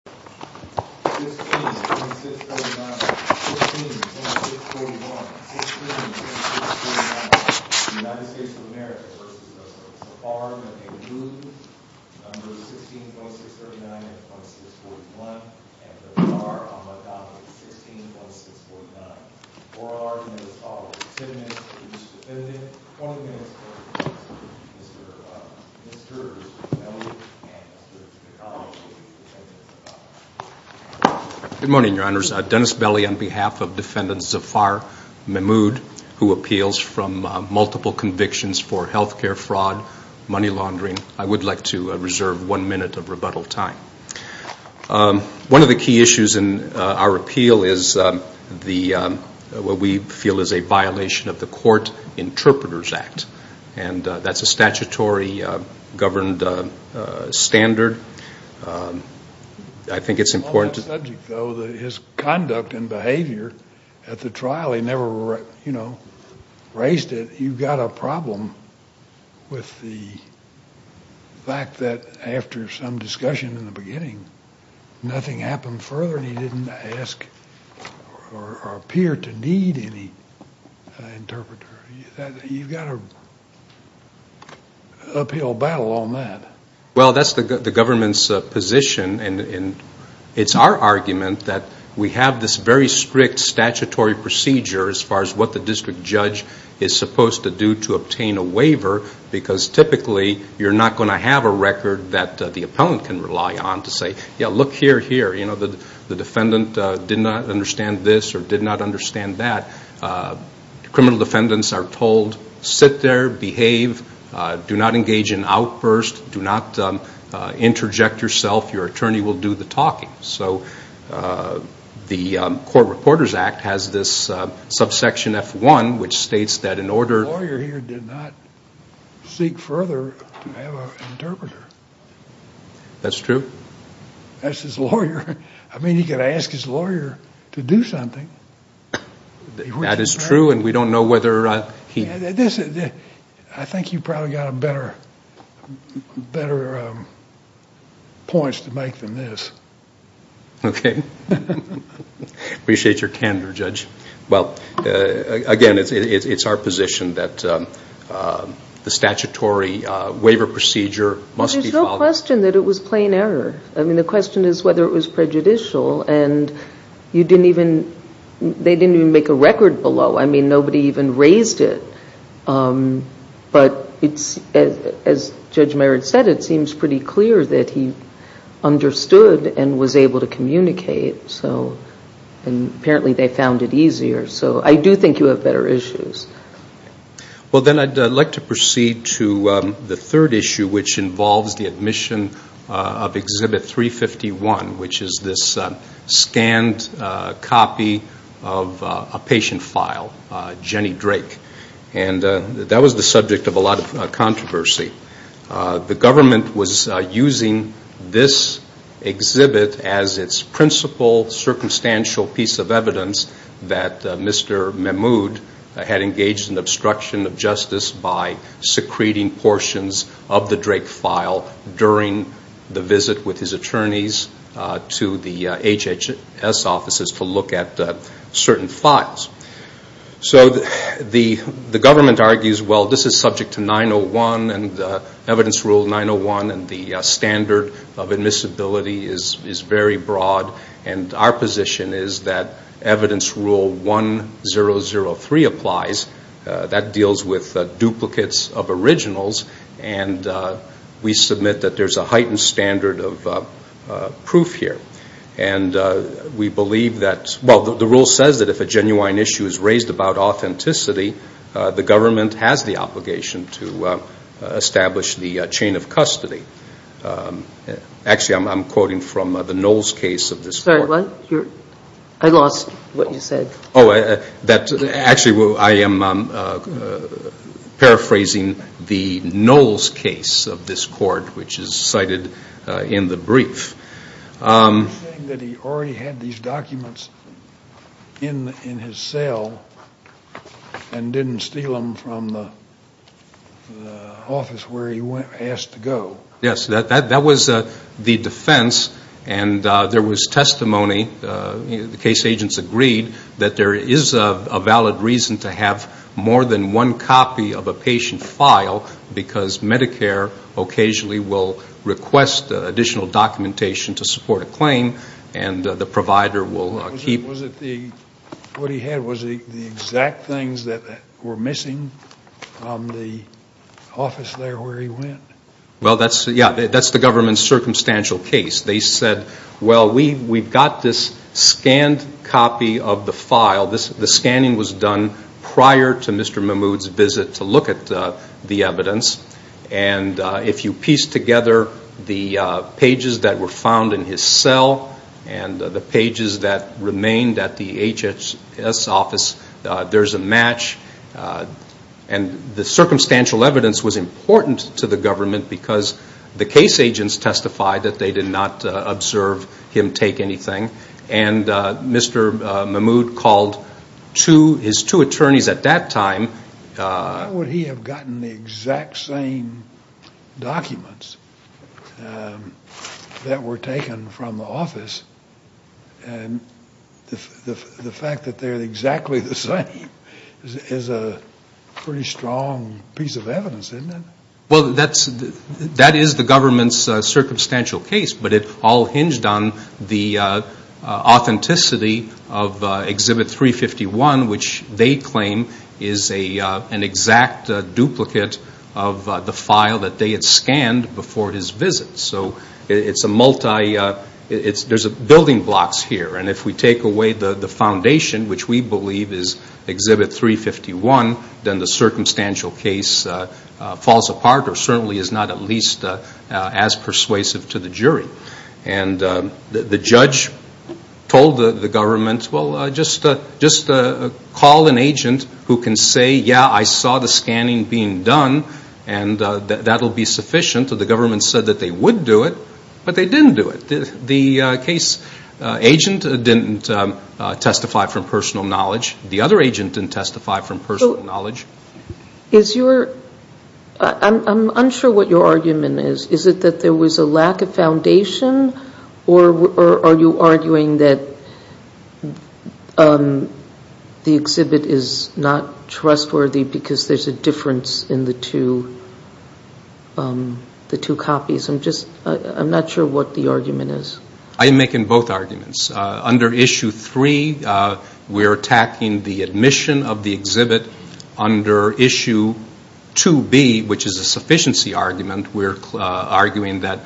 16-2639, 16-2641, 16-2649 USA v. Zafar Mehmood 16-2639, 16-2641, 16-2649 oral arguments, 10 minutes for each defendant, 20 minutes for Mr. Belli and Mr. McConnell Good morning, your honors. Dennis Belli on behalf of defendant Zafar Mehmood, who appeals from multiple convictions for health care fraud, money laundering, I would like to reserve one minute of rebuttal time. One of the key issues in our appeal is what we feel is a violation of the Court Interpreters Act, and that's a statutory governed standard. On that subject, though, his conduct and behavior at the trial, he never raised it. You've got a problem with the fact that after some discussion in the beginning, nothing happened further and he didn't ask or appear to need any interpreter. You've got an uphill battle on that. Well, that's the government's position, and it's our argument that we have this very strict statutory procedure as far as what the district judge is supposed to do to obtain a waiver, because typically you're not going to have a record that the appellant can rely on to say, yeah, look here, here, the defendant did not understand this or did not understand that. Criminal defendants are told, sit there, behave, do not engage in outbursts, do not interject yourself, your attorney will do the talking. So the Court Reporters Act has this subsection F1, which states that in order... The lawyer here did not seek further to have an interpreter. That's true. That's his lawyer. I mean, he could ask his lawyer to do something. That is true, and we don't know whether he... I think you've probably got better points to make than this. Okay. Appreciate your candor, Judge. Well, again, it's our position that the statutory waiver procedure must be followed. I mean, the question is whether it was prejudicial, and you didn't even... They didn't even make a record below. I mean, nobody even raised it. But as Judge Mayer had said, it seems pretty clear that he understood and was able to communicate, and apparently they found it easier. So I do think you have better issues. Well, then I'd like to proceed to the third issue, which involves the admission of Exhibit 351, which is this scanned copy of a patient file, Jenny Drake. And that was the subject of a lot of controversy. The government was using this exhibit as its principal circumstantial piece of evidence that Mr. Mahmoud had engaged in obstruction of justice by secreting portions of the Drake file during the visit with his attorneys to the HHS offices to look at certain files. So the government argues, well, this is subject to 901 and Evidence Rule 901, and the standard of admissibility is very broad. And our position is that Evidence Rule 1003 applies. That deals with duplicates of originals, and we submit that there's a heightened standard of proof here. And we believe that, well, the rule says that if a genuine issue is raised about authenticity, the government has the obligation to establish the chain of custody. Actually, I'm quoting from the Knowles case of this court. Sorry, what? I lost what you said. Actually, I am paraphrasing the Knowles case of this court, which is cited in the brief. You're saying that he already had these documents in his cell and didn't steal them from the office where he asked to go. Yes, that was the defense, and there was testimony. The case agents agreed that there is a valid reason to have more than one copy of a patient file because Medicare occasionally will request additional documentation to support a claim, and the provider will keep Was it the exact things that were missing from the office there where he went? Well, that's the government's circumstantial case. They said, well, we've got this scanned copy of the file. The scanning was done prior to Mr. Mahmoud's visit to look at the evidence, and if you piece together the pages that were found in his cell and the pages that remained at the HHS office, there's a match, and the circumstantial evidence was important to the government because the case agents testified that they did not observe him take anything, and Mr. Mahmoud called his two attorneys at that time. How would he have gotten the exact same documents that were taken from the office? And the fact that they're exactly the same is a pretty strong piece of evidence, isn't it? Well, that is the government's circumstantial case, but it all hinged on the authenticity of Exhibit 351, which they claim is an exact duplicate of the file that they had scanned before his visit. So there's building blocks here, and if we take away the foundation, which we believe is Exhibit 351, then the circumstantial case falls apart or certainly is not at least as persuasive to the jury. And the judge told the government, well, just call an agent who can say, yeah, I saw the scanning being done, and that will be sufficient. So the government said that they would do it, but they didn't do it. The case agent didn't testify from personal knowledge. The other agent didn't testify from personal knowledge. I'm unsure what your argument is. Is it that there was a lack of foundation, or are you arguing that the exhibit is not trustworthy because there's a difference in the two copies? I'm not sure what the argument is. I'm making both arguments. Under Issue 3, we're attacking the admission of the exhibit. Under Issue 2B, which is a sufficiency argument, we're arguing that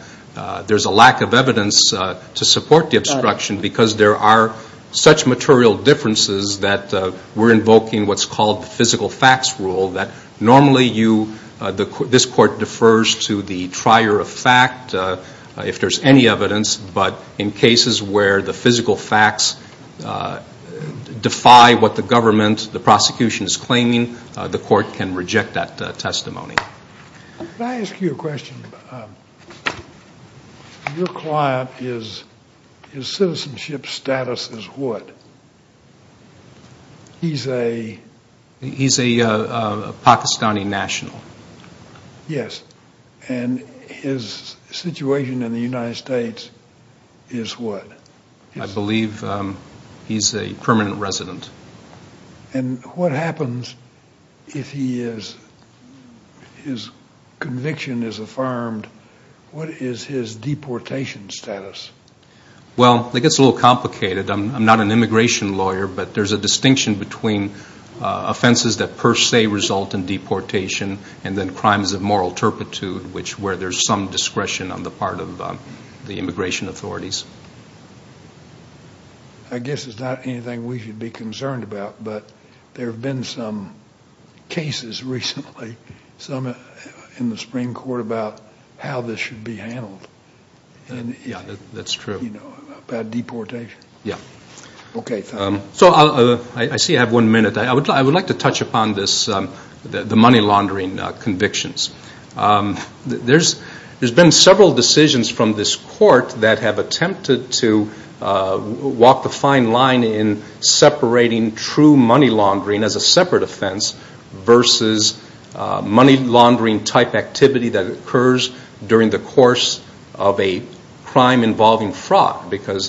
there's a lack of evidence to support the obstruction because there are such material differences that we're invoking what's called the physical facts rule, that normally this court defers to the trier of fact if there's any evidence, but in cases where the physical facts defy what the government, the prosecution is claiming, the court can reject that testimony. Can I ask you a question? Your client, his citizenship status is what? He's a... He's a Pakistani national. Yes, and his situation in the United States is what? I believe he's a permanent resident. And what happens if his conviction is affirmed? What is his deportation status? Well, it gets a little complicated. I'm not an immigration lawyer, but there's a distinction between offenses that per se result in deportation and then crimes of moral turpitude where there's some discretion on the part of the immigration authorities. I guess it's not anything we should be concerned about, but there have been some cases recently, some in the Supreme Court, about how this should be handled. Yeah, that's true. About deportation. Yeah. Okay, thanks. So I see I have one minute. I would like to touch upon the money laundering convictions. There's been several decisions from this court that have attempted to walk the fine line in separating true money laundering as a separate offense versus money laundering-type activity that occurs during the course of a crime involving fraud. Because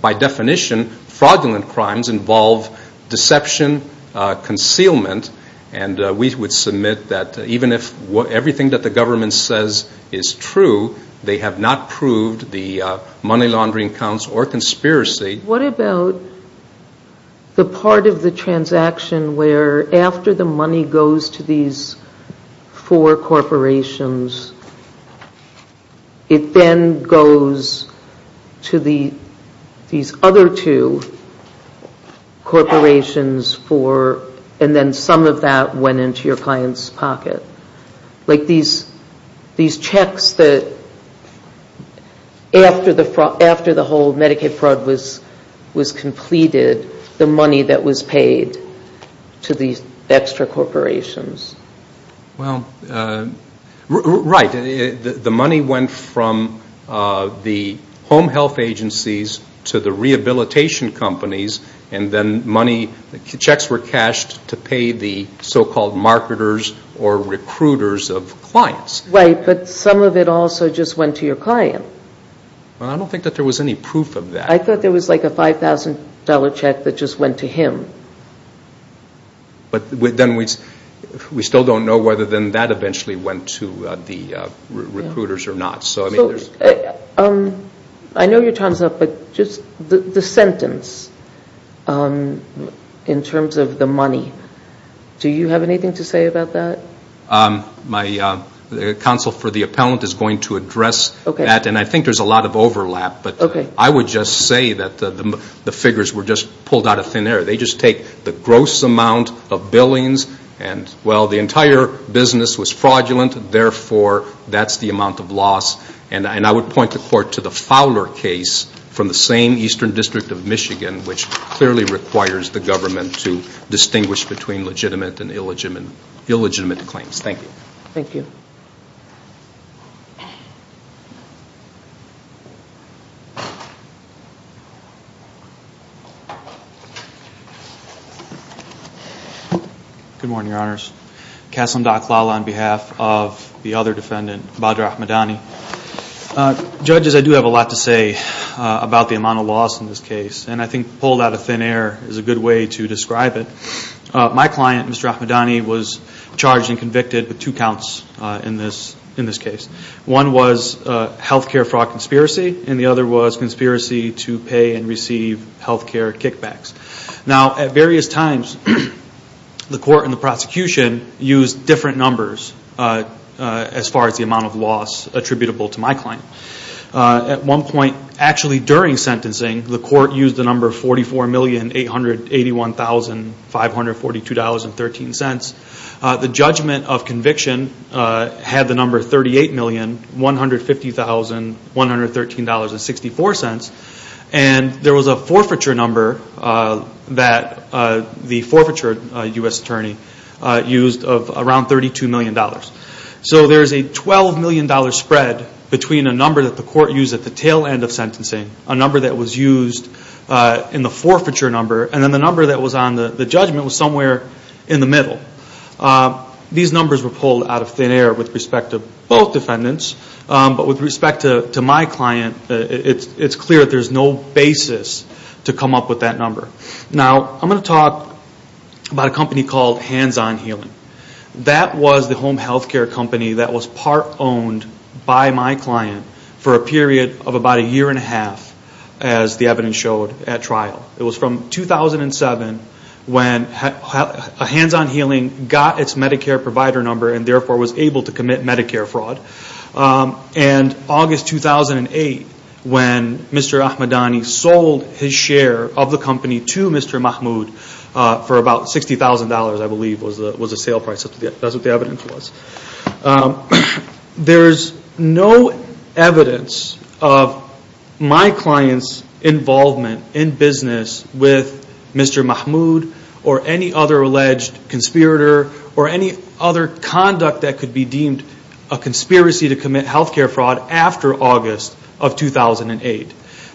by definition, fraudulent crimes involve deception, concealment, and we would submit that even if everything that the government says is true, they have not proved the money laundering counts or conspiracy. What about the part of the transaction where after the money goes to these four corporations, it then goes to these other two corporations and then some of that went into your client's pocket? Like these checks that after the whole Medicaid fraud was completed, the money that was paid to these extra corporations? Well, right. The money went from the home health agencies to the rehabilitation companies, and then checks were cashed to pay the so-called marketers or recruiters of clients. Right, but some of it also just went to your client. Well, I don't think that there was any proof of that. I thought there was like a $5,000 check that just went to him. But then we still don't know whether then that eventually went to the recruiters or not. I know your time is up, but just the sentence in terms of the money, do you have anything to say about that? My counsel for the appellant is going to address that, and I think there's a lot of overlap, but I would just say that the figures were just pulled out of thin air. They just take the gross amount of billings and, well, the entire business was fraudulent, therefore that's the amount of loss. And I would point the court to the Fowler case from the same Eastern District of Michigan, which clearly requires the government to distinguish between legitimate and illegitimate claims. Thank you. Thank you. Good morning, Your Honors. Kasim Daqlala on behalf of the other defendant, Badr Ahmadani. Judges, I do have a lot to say about the amount of loss in this case, and I think pulled out of thin air is a good way to describe it. My client, Mr. Ahmadani, was charged and convicted with two counts in this case. One was health care fraud conspiracy, and the other was conspiracy to pay and receive health care kickbacks. Now, at various times, the court and the prosecution used different numbers as far as the amount of loss attributable to my client. At one point, actually during sentencing, the court used the number $44,881,542.13. The judgment of conviction had the number $38,150,113.64, and there was a forfeiture number that the forfeiture U.S. attorney used of around $32 million. So there is a $12 million spread between a number that the court used at the tail end of sentencing, a number that was used in the forfeiture number, and then the number that was on the judgment was somewhere in the middle. These numbers were pulled out of thin air with respect to both defendants, but with respect to my client, it's clear that there's no basis to come up with that number. Now, I'm going to talk about a company called Hands On Healing. That was the home health care company that was part-owned by my client for a period of about a year and a half, as the evidence showed at trial. It was from 2007 when Hands On Healing got its Medicare provider number and therefore was able to commit Medicare fraud. And August 2008, when Mr. Ahmadani sold his share of the company to Mr. Mahmoud for about $60,000, I believe was the sale price. That's what the evidence was. There's no evidence of my client's involvement in business with Mr. Mahmoud or any other alleged conspirator or any other conduct that could be deemed a conspiracy to commit health care fraud after August of 2008.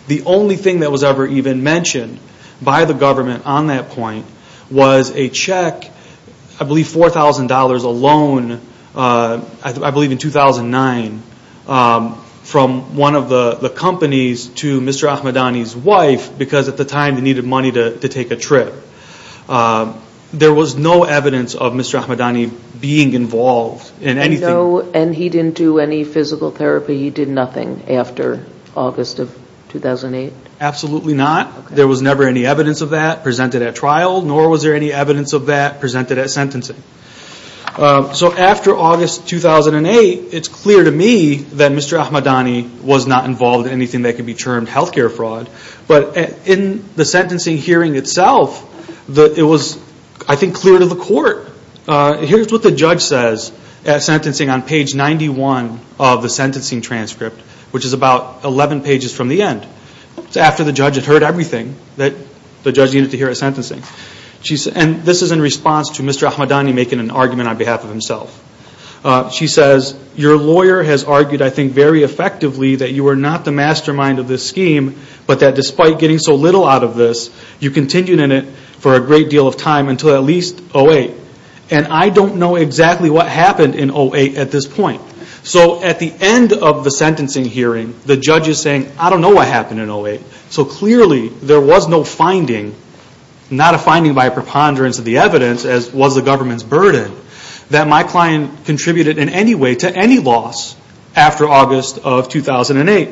The only thing that was ever even mentioned by the government on that point was a check, I believe $4,000 alone, I believe in 2009, from one of the companies to Mr. Ahmadani's wife because at the time they needed money to take a trip. There was no evidence of Mr. Ahmadani being involved in anything. And he didn't do any physical therapy? He did nothing after August of 2008? Absolutely not. There was never any evidence of that presented at trial, nor was there any evidence of that presented at sentencing. So after August 2008, it's clear to me that Mr. Ahmadani was not involved in anything that could be termed health care fraud. But in the sentencing hearing itself, it was, I think, clear to the court. Here's what the judge says at sentencing on page 91 of the sentencing transcript, which is about 11 pages from the end. It's after the judge had heard everything that the judge needed to hear at sentencing. And this is in response to Mr. Ahmadani making an argument on behalf of himself. She says, Your lawyer has argued, I think, very effectively that you were not the mastermind of this scheme, but that despite getting so little out of this, you continued in it for a great deal of time until at least 2008. And I don't know exactly what happened in 2008 at this point. So at the end of the sentencing hearing, the judge is saying, I don't know what happened in 2008. So clearly there was no finding, not a finding by a preponderance of the evidence as was the government's burden, that my client contributed in any way to any loss after August of 2008.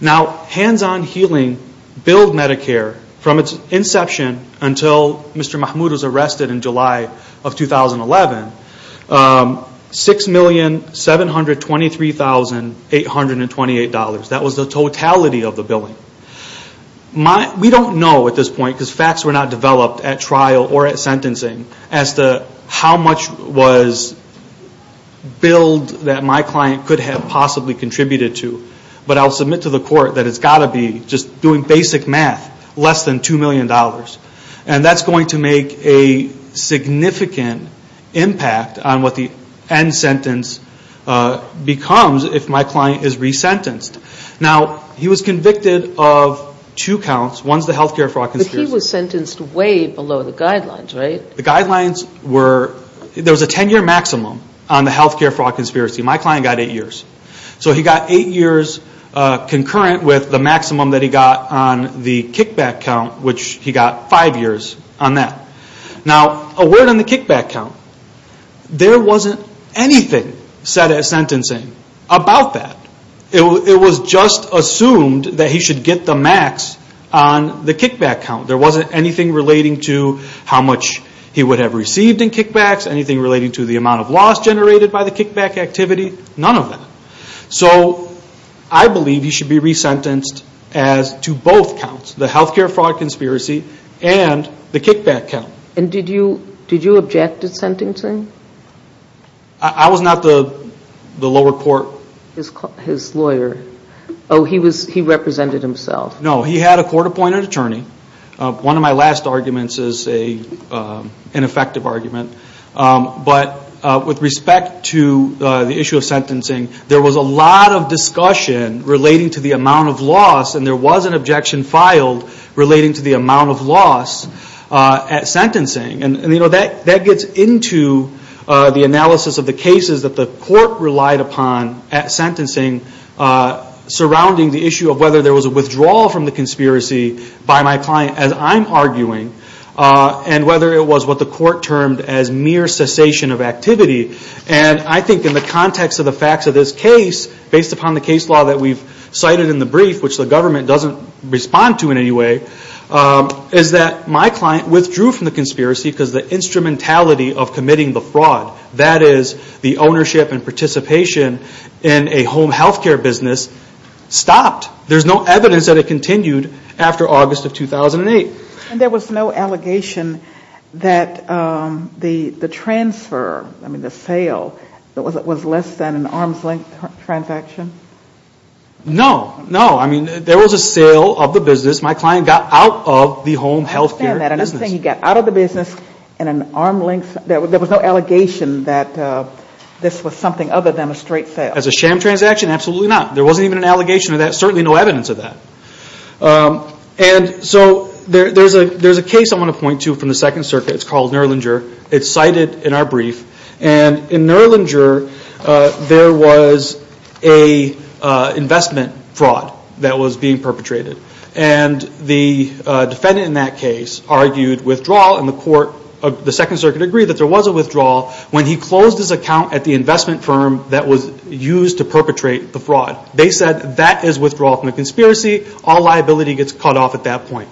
Now, hands-on healing billed Medicare from its inception until Mr. Mahmoud was arrested in July of 2011, $6,723,828. That was the totality of the billing. We don't know at this point, because facts were not developed at trial or at sentencing, as to how much was billed that my client could have possibly contributed to. But I'll submit to the court that it's got to be, just doing basic math, less than $2 million. And that's going to make a significant impact on what the end sentence becomes if my client is resentenced. Now, he was convicted of two counts. One is the healthcare fraud conspiracy. But he was sentenced way below the guidelines, right? The guidelines were, there was a 10-year maximum on the healthcare fraud conspiracy. My client got eight years. So he got eight years concurrent with the maximum that he got on the kickback count, which he got five years on that. Now, a word on the kickback count, there wasn't anything set at sentencing about that. It was just assumed that he should get the max on the kickback count. There wasn't anything relating to how much he would have received in kickbacks, anything relating to the amount of loss generated by the kickback activity, none of that. So I believe he should be resentenced as to both counts, the healthcare fraud conspiracy and the kickback count. And did you object to sentencing? I was not the lower court. His lawyer. Oh, he represented himself. No, he had a court-appointed attorney. One of my last arguments is an effective argument. But with respect to the issue of sentencing, there was a lot of discussion relating to the amount of loss, and there was an objection filed relating to the amount of loss at sentencing. And, you know, that gets into the analysis of the cases that the court relied upon at sentencing, surrounding the issue of whether there was a withdrawal from the conspiracy by my client, as I'm arguing, and whether it was what the court termed as mere cessation of activity. And I think in the context of the facts of this case, based upon the case law that we've cited in the brief, which the government doesn't respond to in any way, is that my client withdrew from the conspiracy because the instrumentality of committing the fraud, that is, the ownership and participation in a home healthcare business, stopped. There's no evidence that it continued after August of 2008. And there was no allegation that the transfer, I mean the sale, was less than an arm's length transaction? No. No. I mean, there was a sale of the business. My client got out of the home healthcare business. I understand that. I'm just saying he got out of the business in an arm's length. There was no allegation that this was something other than a straight sale. As a sham transaction? Absolutely not. There wasn't even an allegation of that. Certainly no evidence of that. And so there's a case I want to point to from the Second Circuit. It's called Nurlinger. It's cited in our brief. And in Nurlinger, there was an investment fraud that was being perpetrated. And the defendant in that case argued withdrawal, and the Second Circuit agreed that there was a withdrawal when he closed his account at the investment firm that was used to perpetrate the fraud. They said that is withdrawal from the conspiracy. All liability gets cut off at that point.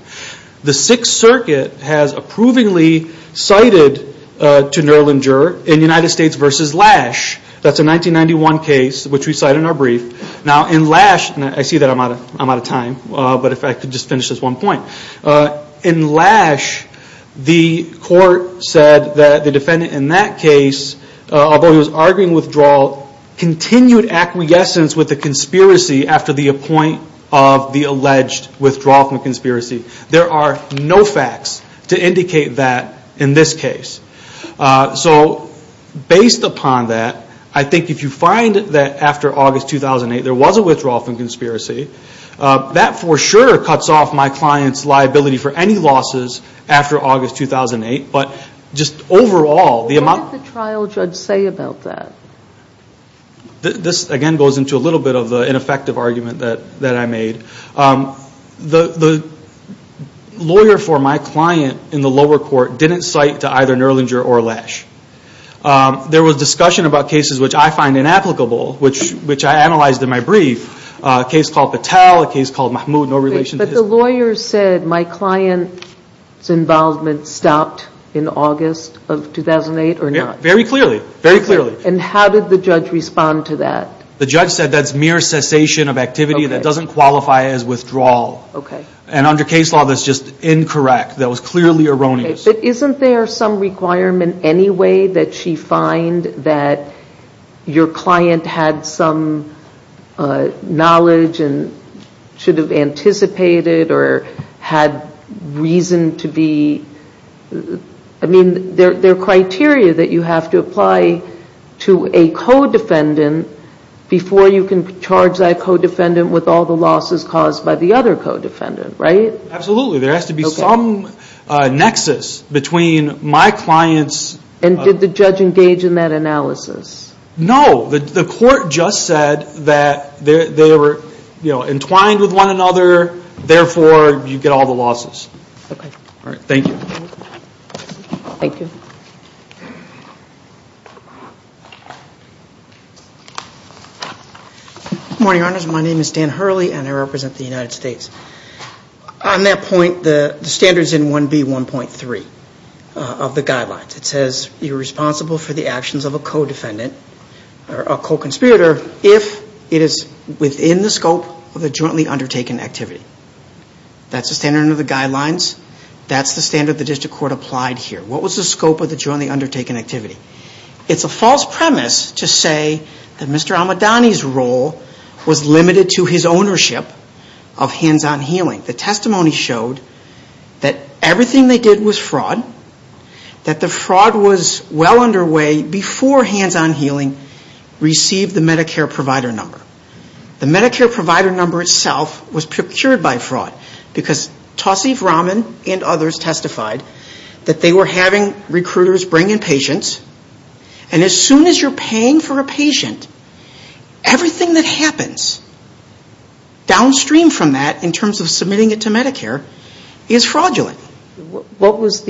The Sixth Circuit has approvingly cited to Nurlinger in United States v. Lash. That's a 1991 case which we cite in our brief. Now in Lash, and I see that I'm out of time, but if I could just finish this one point. In Lash, the court said that the defendant in that case, although he was arguing withdrawal, continued acquiescence with the conspiracy after the point of the alleged withdrawal from conspiracy. There are no facts to indicate that in this case. So based upon that, I think if you find that after August 2008 there was a withdrawal from conspiracy, that for sure cuts off my client's liability for any losses after August 2008. What did the trial judge say about that? This again goes into a little bit of the ineffective argument that I made. The lawyer for my client in the lower court didn't cite to either Nurlinger or Lash. There was discussion about cases which I find inapplicable, which I analyzed in my brief, a case called Patel, a case called Mahmood, no relation to his. The lawyer said my client's involvement stopped in August of 2008 or not? Very clearly, very clearly. And how did the judge respond to that? The judge said that's mere cessation of activity that doesn't qualify as withdrawal. Okay. And under case law, that's just incorrect. That was clearly erroneous. But isn't there some requirement anyway that she find that your client had some knowledge and should have anticipated or had reason to be? I mean, there are criteria that you have to apply to a co-defendant before you can charge that co-defendant with all the losses caused by the other co-defendant, right? Absolutely. There has to be some nexus between my client's... And did the judge engage in that analysis? No. The court just said that they were, you know, entwined with one another. Therefore, you get all the losses. Okay. All right. Thank you. Thank you. Good morning, Your Honors. My name is Dan Hurley and I represent the United States. On that point, the standards in 1B.1.3 of the guidelines, it says you're responsible for the actions of a co-defendant or a co-conspirator if it is within the scope of a jointly undertaken activity. That's the standard under the guidelines. That's the standard the district court applied here. What was the scope of the jointly undertaken activity? It's a false premise to say that Mr. Almodany's role was limited to his ownership of hands-on healing. The testimony showed that everything they did was fraud, that the fraud was well underway before hands-on healing received the Medicare provider number. The Medicare provider number itself was procured by fraud because Tauseef Rahman and others testified that they were having recruiters bring in patients and as soon as you're paying for a patient, everything that happens downstream from that in terms of submitting it to Medicare is fraudulent. What was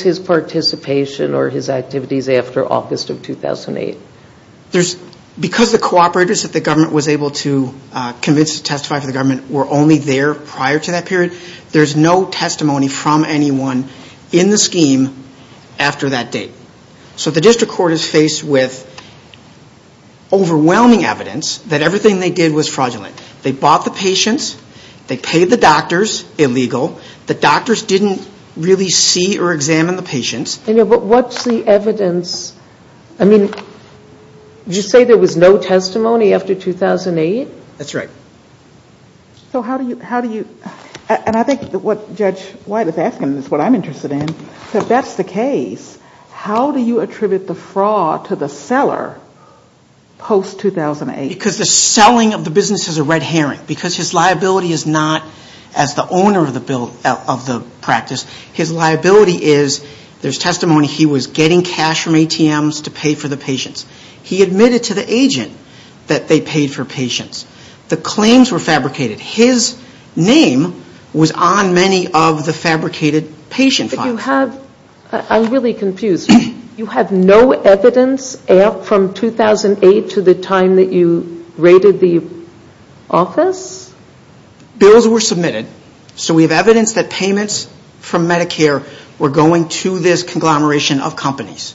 his participation or his activities after August of 2008? Because the cooperators that the government was able to convince to testify for the government were only there prior to that period. There's no testimony from anyone in the scheme after that date. So the district court is faced with overwhelming evidence that everything they did was fraudulent. They bought the patients. They paid the doctors, illegal. The doctors didn't really see or examine the patients. But what's the evidence? I mean, did you say there was no testimony after 2008? That's right. So how do you – and I think what Judge White is asking is what I'm interested in. If that's the case, how do you attribute the fraud to the seller post-2008? Because the selling of the business is a red herring. Because his liability is not as the owner of the practice. His liability is there's testimony he was getting cash from ATMs to pay for the patients. He admitted to the agent that they paid for patients. The claims were fabricated. His name was on many of the fabricated patient files. But you have – I'm really confused. You have no evidence from 2008 to the time that you raided the office? Bills were submitted. So we have evidence that payments from Medicare were going to this conglomeration of companies.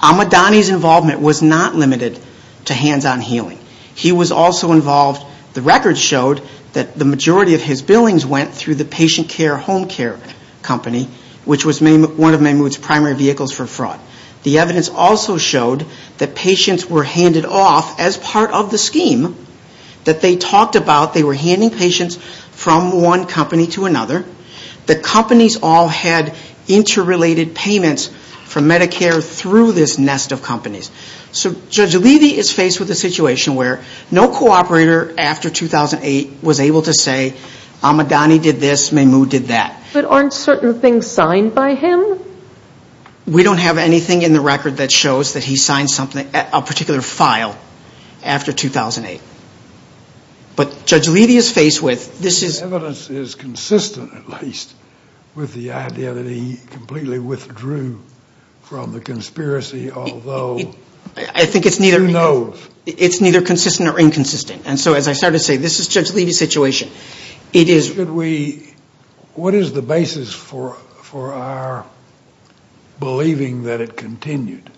Ahmadani's involvement was not limited to hands-on healing. He was also involved – the records showed that the majority of his billings went through the patient care home care company, which was one of Mehmood's primary vehicles for fraud. The evidence also showed that patients were handed off as part of the scheme that they talked about. They were handing patients from one company to another. The companies all had interrelated payments from Medicare through this nest of companies. So Judge Levy is faced with a situation where no cooperator after 2008 was able to say Ahmadani did this, Mehmood did that. But aren't certain things signed by him? We don't have anything in the record that shows that he signed a particular file after 2008. But Judge Levy is faced with – The evidence is consistent, at least, with the idea that he completely withdrew from the conspiracy, although – I think it's neither – Who knows? It's neither consistent or inconsistent. And so, as I started to say, this is Judge Levy's situation. It is – Should we – what is the basis for our believing that it continued?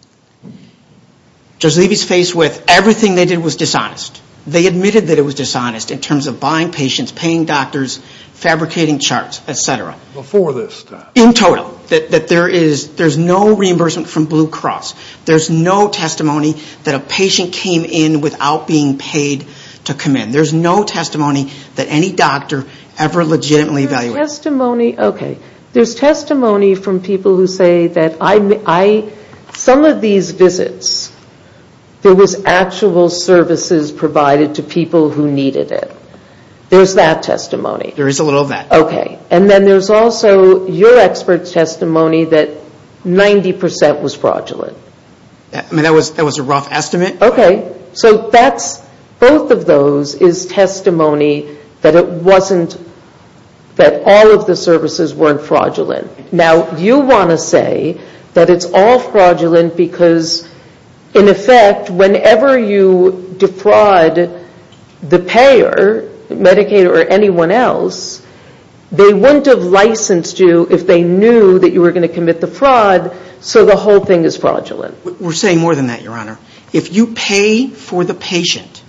Judge Levy is faced with everything they did was dishonest. They admitted that it was dishonest in terms of buying patients, paying doctors, fabricating charts, etc. Before this time. In total. That there is – there's no reimbursement from Blue Cross. There's no testimony that a patient came in without being paid to come in. There's no testimony that any doctor ever legitimately – There's testimony – okay. who needed it. There's that testimony. There is a little of that. Okay. And then there's also your expert testimony that 90% was fraudulent. I mean, that was a rough estimate. Okay. So that's – both of those is testimony that it wasn't – that all of the services weren't fraudulent. Now, you want to say that it's all fraudulent because, in effect, whenever you defraud the payer, Medicaid or anyone else, they wouldn't have licensed you if they knew that you were going to commit the fraud, so the whole thing is fraudulent. We're saying more than that, Your Honor. If you pay for the patient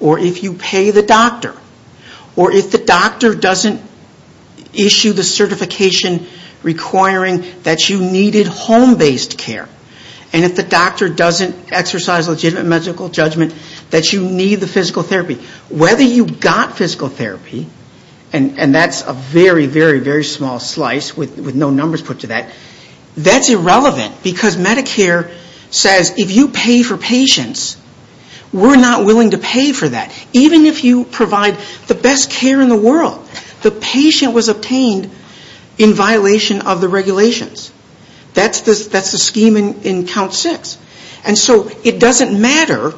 or if you pay the doctor or if the doctor doesn't issue the certification requiring that you needed home-based care and if the doctor doesn't exercise legitimate medical judgment that you need the physical therapy, whether you got physical therapy – and that's a very, very, very small slice with no numbers put to that – that's irrelevant because Medicare says if you pay for patients, we're not willing to pay for that. Even if you provide the best care in the world, the patient was obtained in violation of the regulations. That's the scheme in Count 6. And so it doesn't matter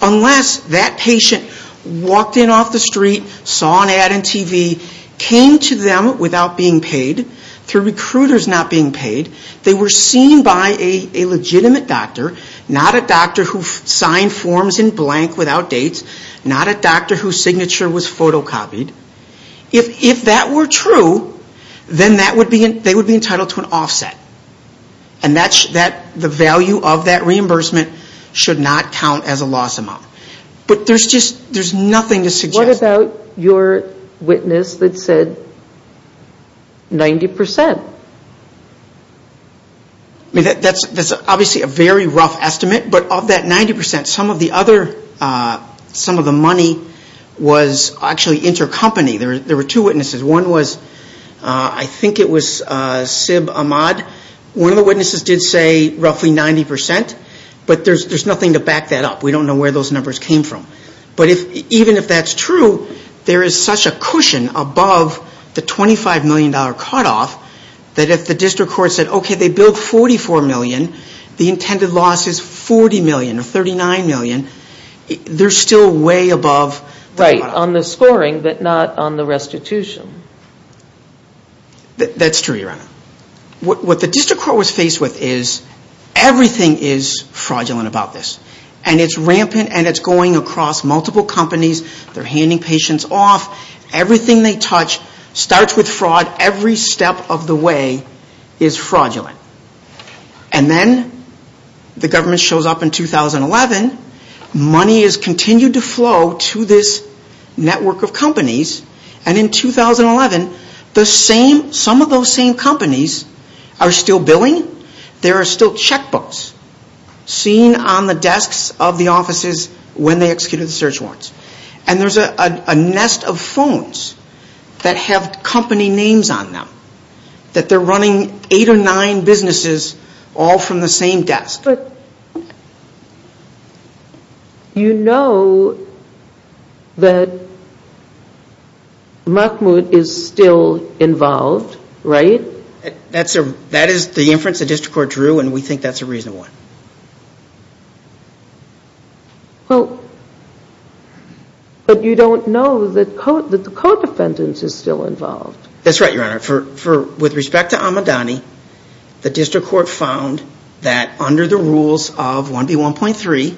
unless that patient walked in off the street, saw an ad on TV, came to them without being paid, through recruiters not being paid. They were seen by a legitimate doctor, not a doctor who signed forms in blank without dates, not a doctor whose signature was photocopied. If that were true, then they would be entitled to an offset. And the value of that reimbursement should not count as a loss amount. But there's just – there's nothing to suggest – 90%. I mean, that's obviously a very rough estimate, but of that 90%, some of the other – some of the money was actually intercompany. There were two witnesses. One was – I think it was Sib Ahmad. One of the witnesses did say roughly 90%, but there's nothing to back that up. We don't know where those numbers came from. But even if that's true, there is such a cushion above the $25 million cutoff that if the district court said, okay, they billed $44 million, the intended loss is $40 million or $39 million, they're still way above the cutoff. Right, on the scoring but not on the restitution. That's true, Your Honor. What the district court was faced with is everything is fraudulent about this. And it's rampant and it's going across multiple companies. They're handing patients off. Everything they touch starts with fraud. Every step of the way is fraudulent. And then the government shows up in 2011. Money has continued to flow to this network of companies. And in 2011, the same – some of those same companies are still billing. There are still checkbooks. Seen on the desks of the offices when they executed the search warrants. And there's a nest of phones that have company names on them. That they're running eight or nine businesses all from the same desk. But you know that Mahmoud is still involved, right? That is the inference the district court drew. And we think that's a reasonable one. Well, but you don't know that the co-defendant is still involved. That's right, Your Honor. With respect to Ahmadani, the district court found that under the rules of 1B1.3,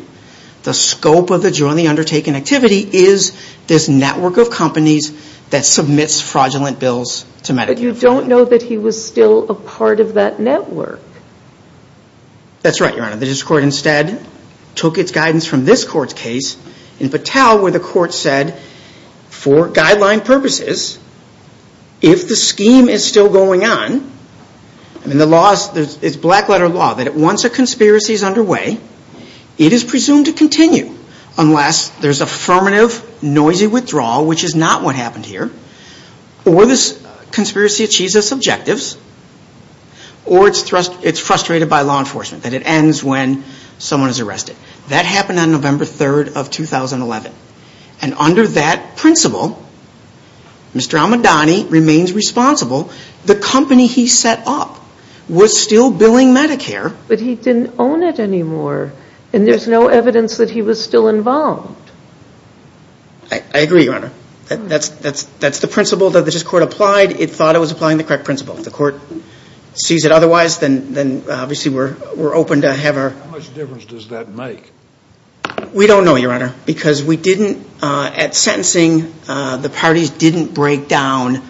the scope of the jointly undertaken activity is this network of companies that submits fraudulent bills to Medicare. But you don't know that he was still a part of that network. That's right, Your Honor. The district court instead took its guidance from this court's case in Patel where the court said for guideline purposes, if the scheme is still going on, and the law is black letter law, that once a conspiracy is underway, it is presumed to continue unless there's affirmative noisy withdrawal, which is not what happened here, or this conspiracy achieves its objectives, or it's frustrated by law enforcement, that it ends when someone is arrested. That happened on November 3rd of 2011. And under that principle, Mr. Ahmadani remains responsible. The company he set up was still billing Medicare. But he didn't own it anymore, and there's no evidence that he was still involved. I agree, Your Honor. That's the principle that the district court applied. It thought it was applying the correct principle. If the court sees it otherwise, then obviously we're open to have our... How much difference does that make? We don't know, Your Honor, because we didn't, at sentencing, the parties didn't break down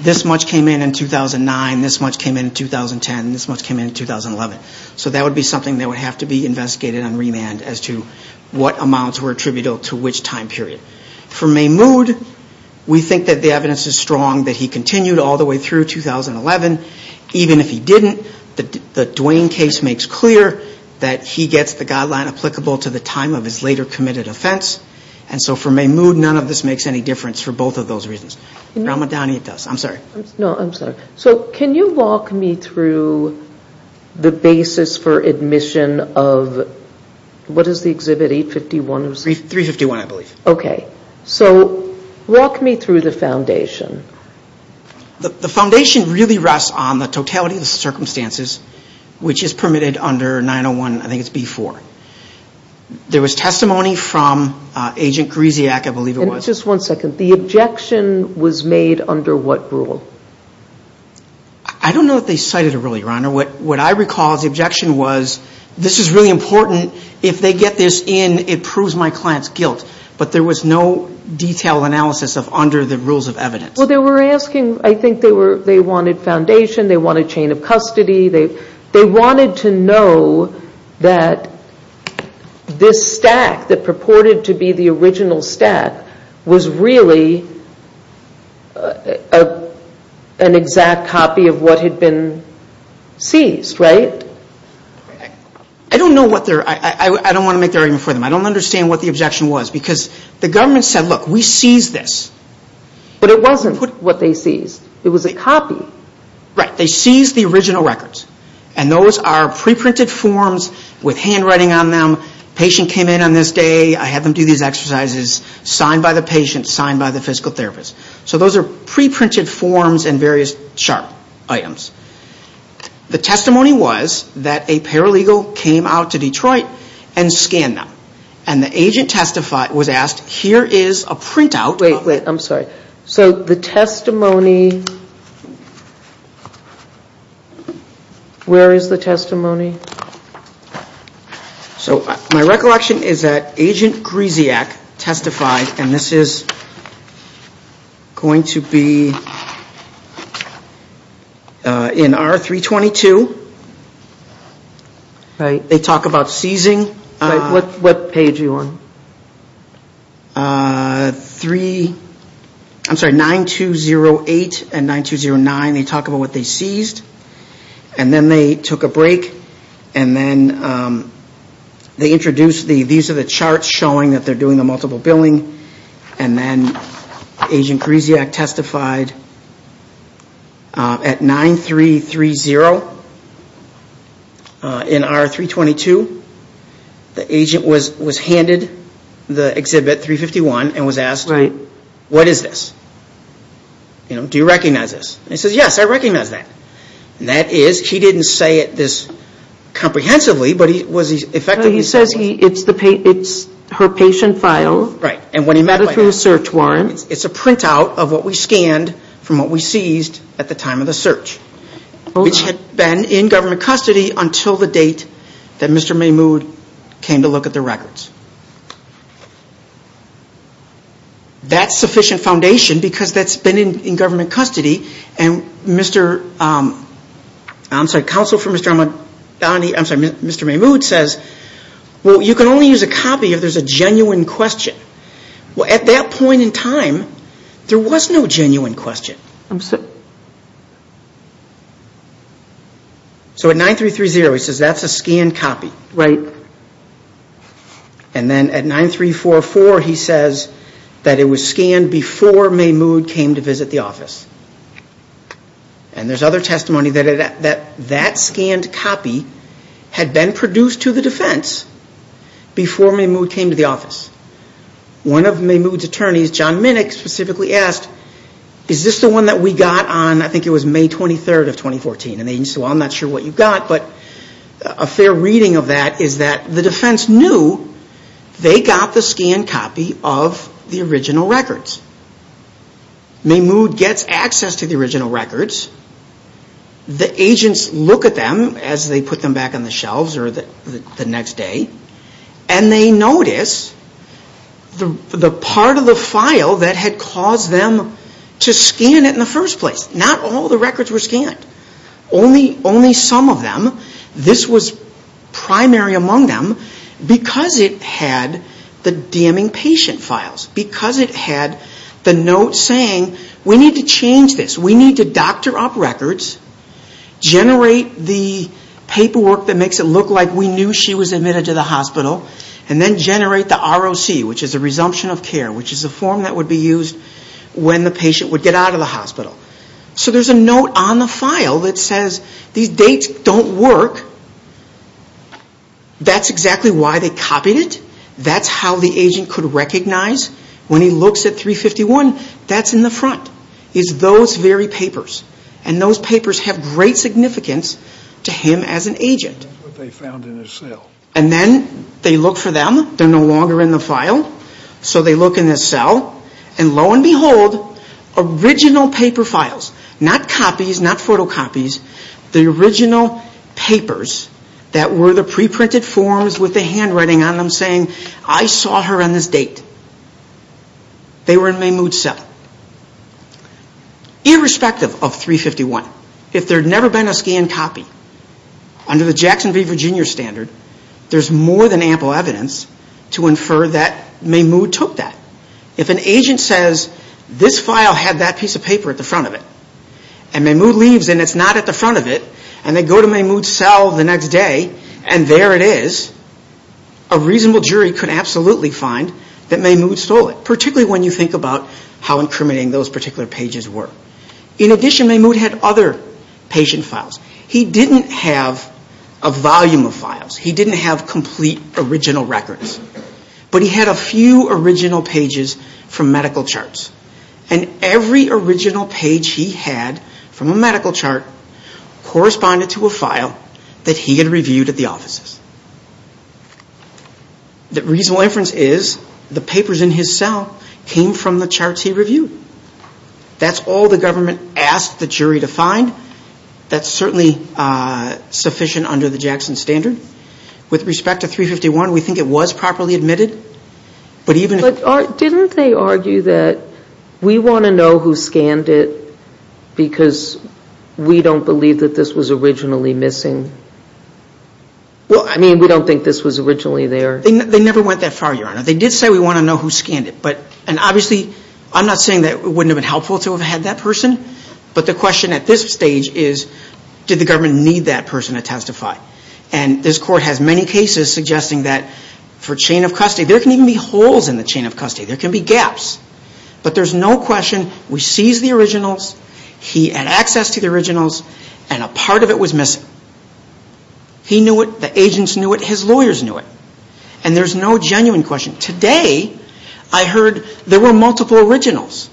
this much came in in 2009, this much came in in 2010, this much came in in 2011. So that would be something that would have to be investigated on remand as to what amounts were attributable to which time period. For Mahmoud, we think that the evidence is strong that he continued all the way through 2011. Even if he didn't, the Duane case makes clear that he gets the guideline applicable to the time of his later committed offense. And so for Mahmoud, none of this makes any difference for both of those reasons. For Ahmadani, it does. I'm sorry. No, I'm sorry. So can you walk me through the basis for admission of... What is the exhibit, 851? 351, I believe. Okay. So walk me through the foundation. The foundation really rests on the totality of the circumstances, which is permitted under 901, I think it's B-4. There was testimony from Agent Greziak, I believe it was. Just one second. The objection was made under what rule? I don't know that they cited a rule, Your Honor. What I recall is the objection was, this is really important. If they get this in, it proves my client's guilt. But there was no detailed analysis of under the rules of evidence. Well, they were asking, I think they wanted foundation. They wanted chain of custody. They wanted to know that this stack that purported to be the original stack was really an exact copy of what had been seized, right? I don't know what they're... I don't want to make the argument for them. I don't understand what the objection was. Because the government said, look, we seized this. But it wasn't what they seized. It was a copy. Right, they seized the original records. And those are pre-printed forms with handwriting on them. Patient came in on this day. I had them do these exercises. Signed by the patient. Signed by the physical therapist. So those are pre-printed forms and various sharp items. The testimony was that a paralegal came out to Detroit and scanned them. And the agent was asked, here is a printout. Wait, wait, I'm sorry. So the testimony, where is the testimony? So my recollection is that Agent Gryziak testified, and this is going to be in R-322. They talk about seizing. What page are you on? I'm sorry, 9-2-0-8 and 9-2-0-9. They talk about what they seized. And then they took a break. And then they introduced, these are the charts showing that they're doing the multiple billing. And then Agent Gryziak testified at 9-3-3-0 in R-322. The agent was handed the Exhibit 351 and was asked, what is this? Do you recognize this? And he says, yes, I recognize that. And that is, he didn't say it this comprehensively, but he was effectively saying it. He says it's her patient file. Right. And when he met her through a search warrant. It's a printout of what we scanned from what we seized at the time of the search. Which had been in government custody until the date that Mr. Mahmoud came to look at the records. That's sufficient foundation because that's been in government custody. And Mr. I'm sorry, Counsel for Mr. Mahmoud says, well, you can only use a copy if there's a genuine question. Well, at that point in time, there was no genuine question. I'm sorry. So at 9-3-3-0, he says that's a scanned copy. Right. And then at 9-3-4-4, he says that it was scanned before Mahmoud came to visit the office. And there's other testimony that that scanned copy had been produced to the defense before Mahmoud came to the office. One of Mahmoud's attorneys, John Minnick, specifically asked, is this the one that we got on, I think it was May 23rd of 2014. And he said, well, I'm not sure what you got, but a fair reading of that is that the defense knew they got the scanned copy of the original records. Mahmoud gets access to the original records. The agents look at them as they put them back on the shelves the next day. And they notice the part of the file that had caused them to scan it in the first place. Not all the records were scanned. Only some of them. This was primary among them because it had the damning patient files. Because it had the note saying, we need to change this. We need to doctor up records. Generate the paperwork that makes it look like we knew she was admitted to the hospital. And then generate the ROC, which is the resumption of care. Which is the form that would be used when the patient would get out of the hospital. So there's a note on the file that says, these dates don't work. That's exactly why they copied it. That's how the agent could recognize when he looks at 351, that's in the front. It's those very papers. And those papers have great significance to him as an agent. And then they look for them. They're no longer in the file. So they look in the cell. And lo and behold, original paper files. Not copies, not photocopies. The original papers that were the preprinted forms with the handwriting on them saying, I saw her on this date. They were in Maymood's cell. Irrespective of 351, if there had never been a scanned copy, under the Jackson v. Virginia standard, there's more than ample evidence to infer that Maymood took that. If an agent says, this file had that piece of paper at the front of it, and Maymood leaves and it's not at the front of it, and they go to Maymood's cell the next day, and there it is, a reasonable jury could absolutely find that Maymood stole it. Particularly when you think about how incriminating those particular pages were. In addition, Maymood had other patient files. He didn't have a volume of files. He didn't have complete original records. But he had a few original pages from medical charts. And every original page he had from a medical chart corresponded to a file that he had reviewed at the offices. The reasonable inference is the papers in his cell came from the charts he reviewed. That's all the government asked the jury to find. That's certainly sufficient under the Jackson standard. With respect to 351, we think it was properly admitted. But didn't they argue that we want to know who scanned it because we don't believe that this was originally missing? Well, I mean, we don't think this was originally there. They never went that far, Your Honor. They did say we want to know who scanned it. And obviously, I'm not saying that it wouldn't have been helpful to have had that person. But the question at this stage is, did the government need that person to testify? And this Court has many cases suggesting that for chain of custody, there can even be holes in the chain of custody. There can be gaps. But there's no question. We seized the originals. He had access to the originals. And a part of it was missing. He knew it. The agents knew it. His lawyers knew it. And there's no genuine question. Today, I heard there were multiple originals.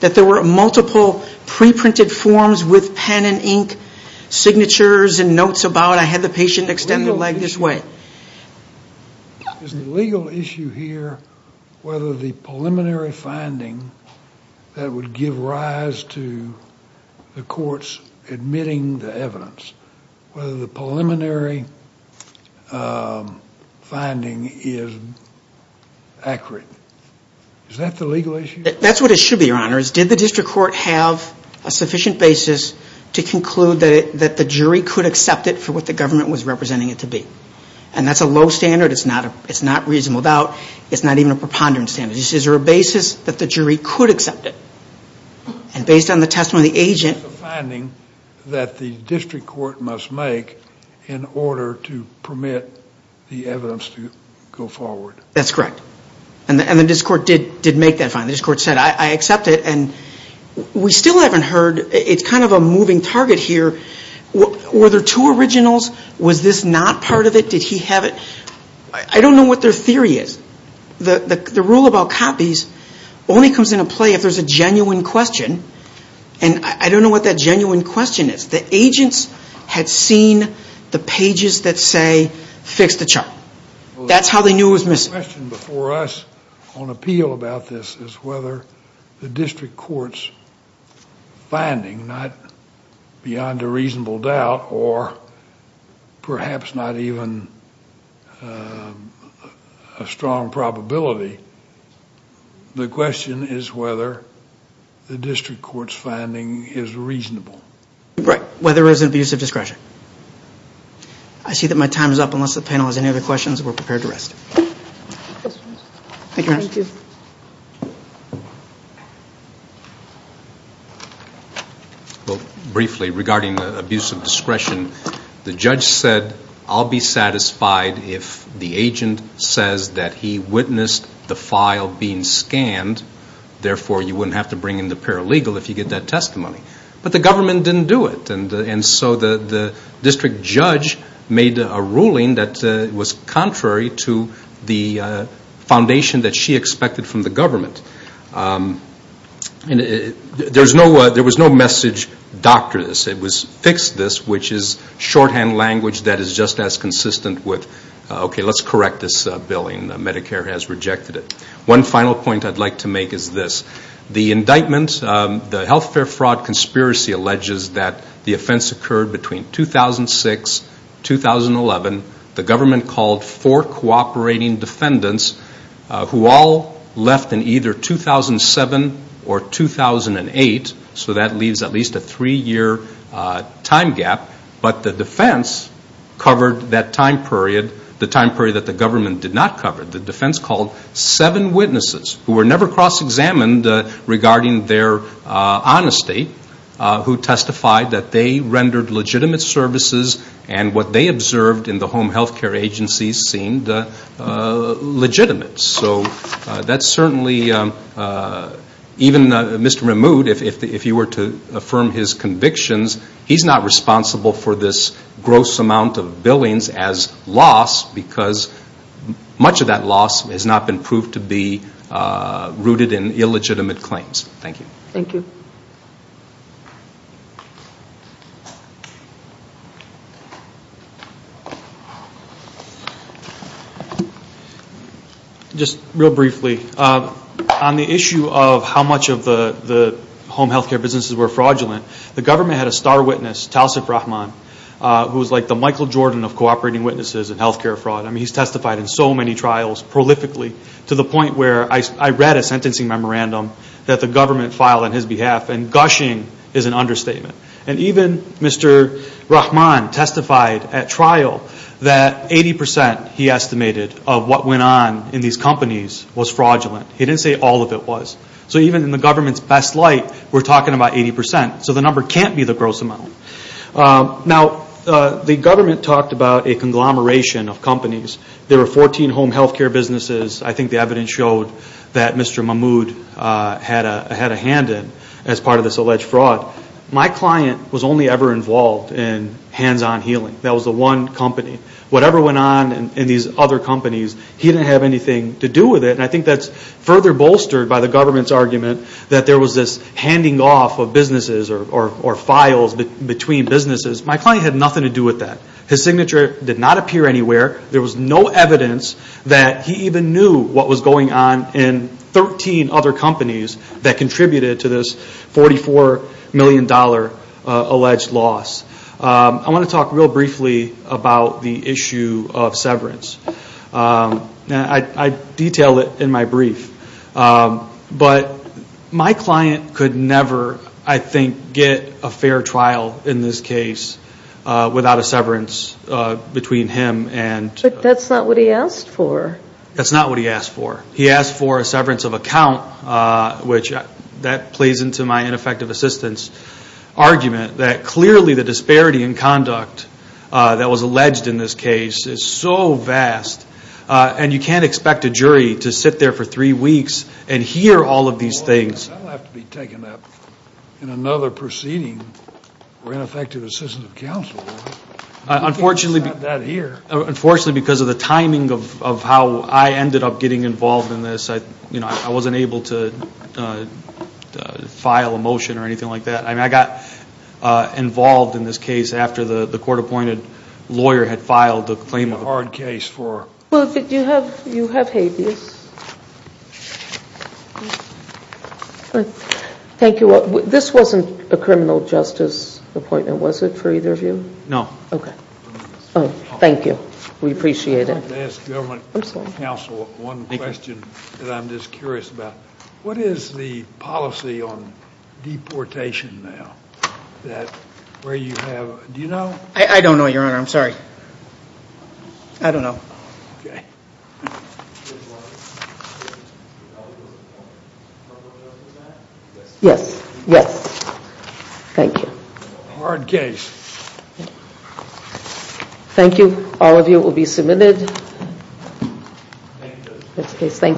That there were multiple pre-printed forms with pen and ink, signatures and notes about it. I had the patient extend their leg this way. Is the legal issue here whether the preliminary finding that would give rise to the courts admitting the evidence, whether the preliminary finding is accurate? Is that the legal issue? That's what it should be, Your Honor, is did the district court have a sufficient basis to conclude that the jury could accept it for what the government was representing it to be? And that's a low standard. It's not reasonable doubt. It's not even a preponderance standard. It's just a basis that the jury could accept it. And based on the testimony of the agent. It's a finding that the district court must make in order to permit the evidence to go forward. That's correct. And this Court did make that finding. This Court said, I accept it. And we still haven't heard. It's kind of a moving target here. Were there two originals? Was this not part of it? Did he have it? I don't know what their theory is. The rule about copies only comes into play if there's a genuine question. And I don't know what that genuine question is. The agents had seen the pages that say, fix the chart. That's how they knew it was missing. The question before us on appeal about this is whether the district court's finding, not beyond a reasonable doubt or perhaps not even a strong probability, the question is whether the district court's finding is reasonable. Right. Whether it was an abuse of discretion. I see that my time is up. Unless the panel has any other questions, we're prepared to rest. Thank you. Thank you. Briefly, regarding the abuse of discretion, the judge said, I'll be satisfied if the agent says that he witnessed the file being scanned. Therefore, you wouldn't have to bring in the paralegal if you get that testimony. But the government didn't do it. And so the district judge made a ruling that was contrary to the foundation that she expected from the government. There was no message, doctor this. It was, fix this, which is shorthand language that is just as consistent with, okay, let's correct this billing. Medicare has rejected it. One final point I'd like to make is this. The indictment, the health care fraud conspiracy, alleges that the offense occurred between 2006, 2011. The government called four cooperating defendants who all left in either 2007 or 2008. So that leaves at least a three-year time gap. But the defense covered that time period, the time period that the government did not cover. The defense called seven witnesses who were never cross-examined regarding their honesty, who testified that they rendered legitimate services and what they observed in the home health care agencies seemed legitimate. So that's certainly, even Mr. Mahmoud, if you were to affirm his convictions, he's not responsible for this gross amount of billings as loss because much of that loss has not been proved to be rooted in illegitimate claims. Thank you. Thank you. Just real briefly, on the issue of how much of the home health care businesses were fraudulent, the government had a star witness, Talsif Rahman, who was like the Michael Jordan of cooperating witnesses in health care fraud. I mean, he's testified in so many trials prolifically to the point where I read a sentencing memorandum that the government filed on his behalf, and gushing is an understatement. And even Mr. Rahman testified at trial that 80 percent, he estimated, of what went on in these companies was fraudulent. He didn't say all of it was. So even in the government's best light, we're talking about 80 percent. So the number can't be the gross amount. Now, the government talked about a conglomeration of companies. There were 14 home health care businesses. I think the evidence showed that Mr. Mahmoud had a hand in as part of this alleged fraud. My client was only ever involved in hands-on healing. That was the one company. Whatever went on in these other companies, he didn't have anything to do with it. And I think that's further bolstered by the government's argument that there was this handing off of businesses or files between businesses. My client had nothing to do with that. His signature did not appear anywhere. There was no evidence that he even knew what was going on in 13 other companies that contributed to this $44 million alleged loss. I want to talk real briefly about the issue of severance. I detail it in my brief. But my client could never, I think, get a fair trial in this case without a severance between him and... But that's not what he asked for. That's not what he asked for. He asked for a severance of account, which that plays into my ineffective assistance argument that clearly the disparity in conduct that was alleged in this case is so vast. And you can't expect a jury to sit there for three weeks and hear all of these things. That will have to be taken up in another proceeding for ineffective assistance of counsel. Unfortunately, because of the timing of how I ended up getting involved in this, I wasn't able to file a motion or anything like that. I got involved in this case after the court-appointed lawyer had filed the claim. It's a hard case for... Well, you have habeas. Thank you. This wasn't a criminal justice appointment, was it, for either of you? No. Okay. Oh, thank you. We appreciate it. I'd like to ask government counsel one question that I'm just curious about. What is the policy on deportation now that where you have... Do you know? I don't know, Your Honor. I'm sorry. I don't know. Okay. Yes. Yes. Thank you. Hard case. Thank you. All of you will be submitted. Thank you.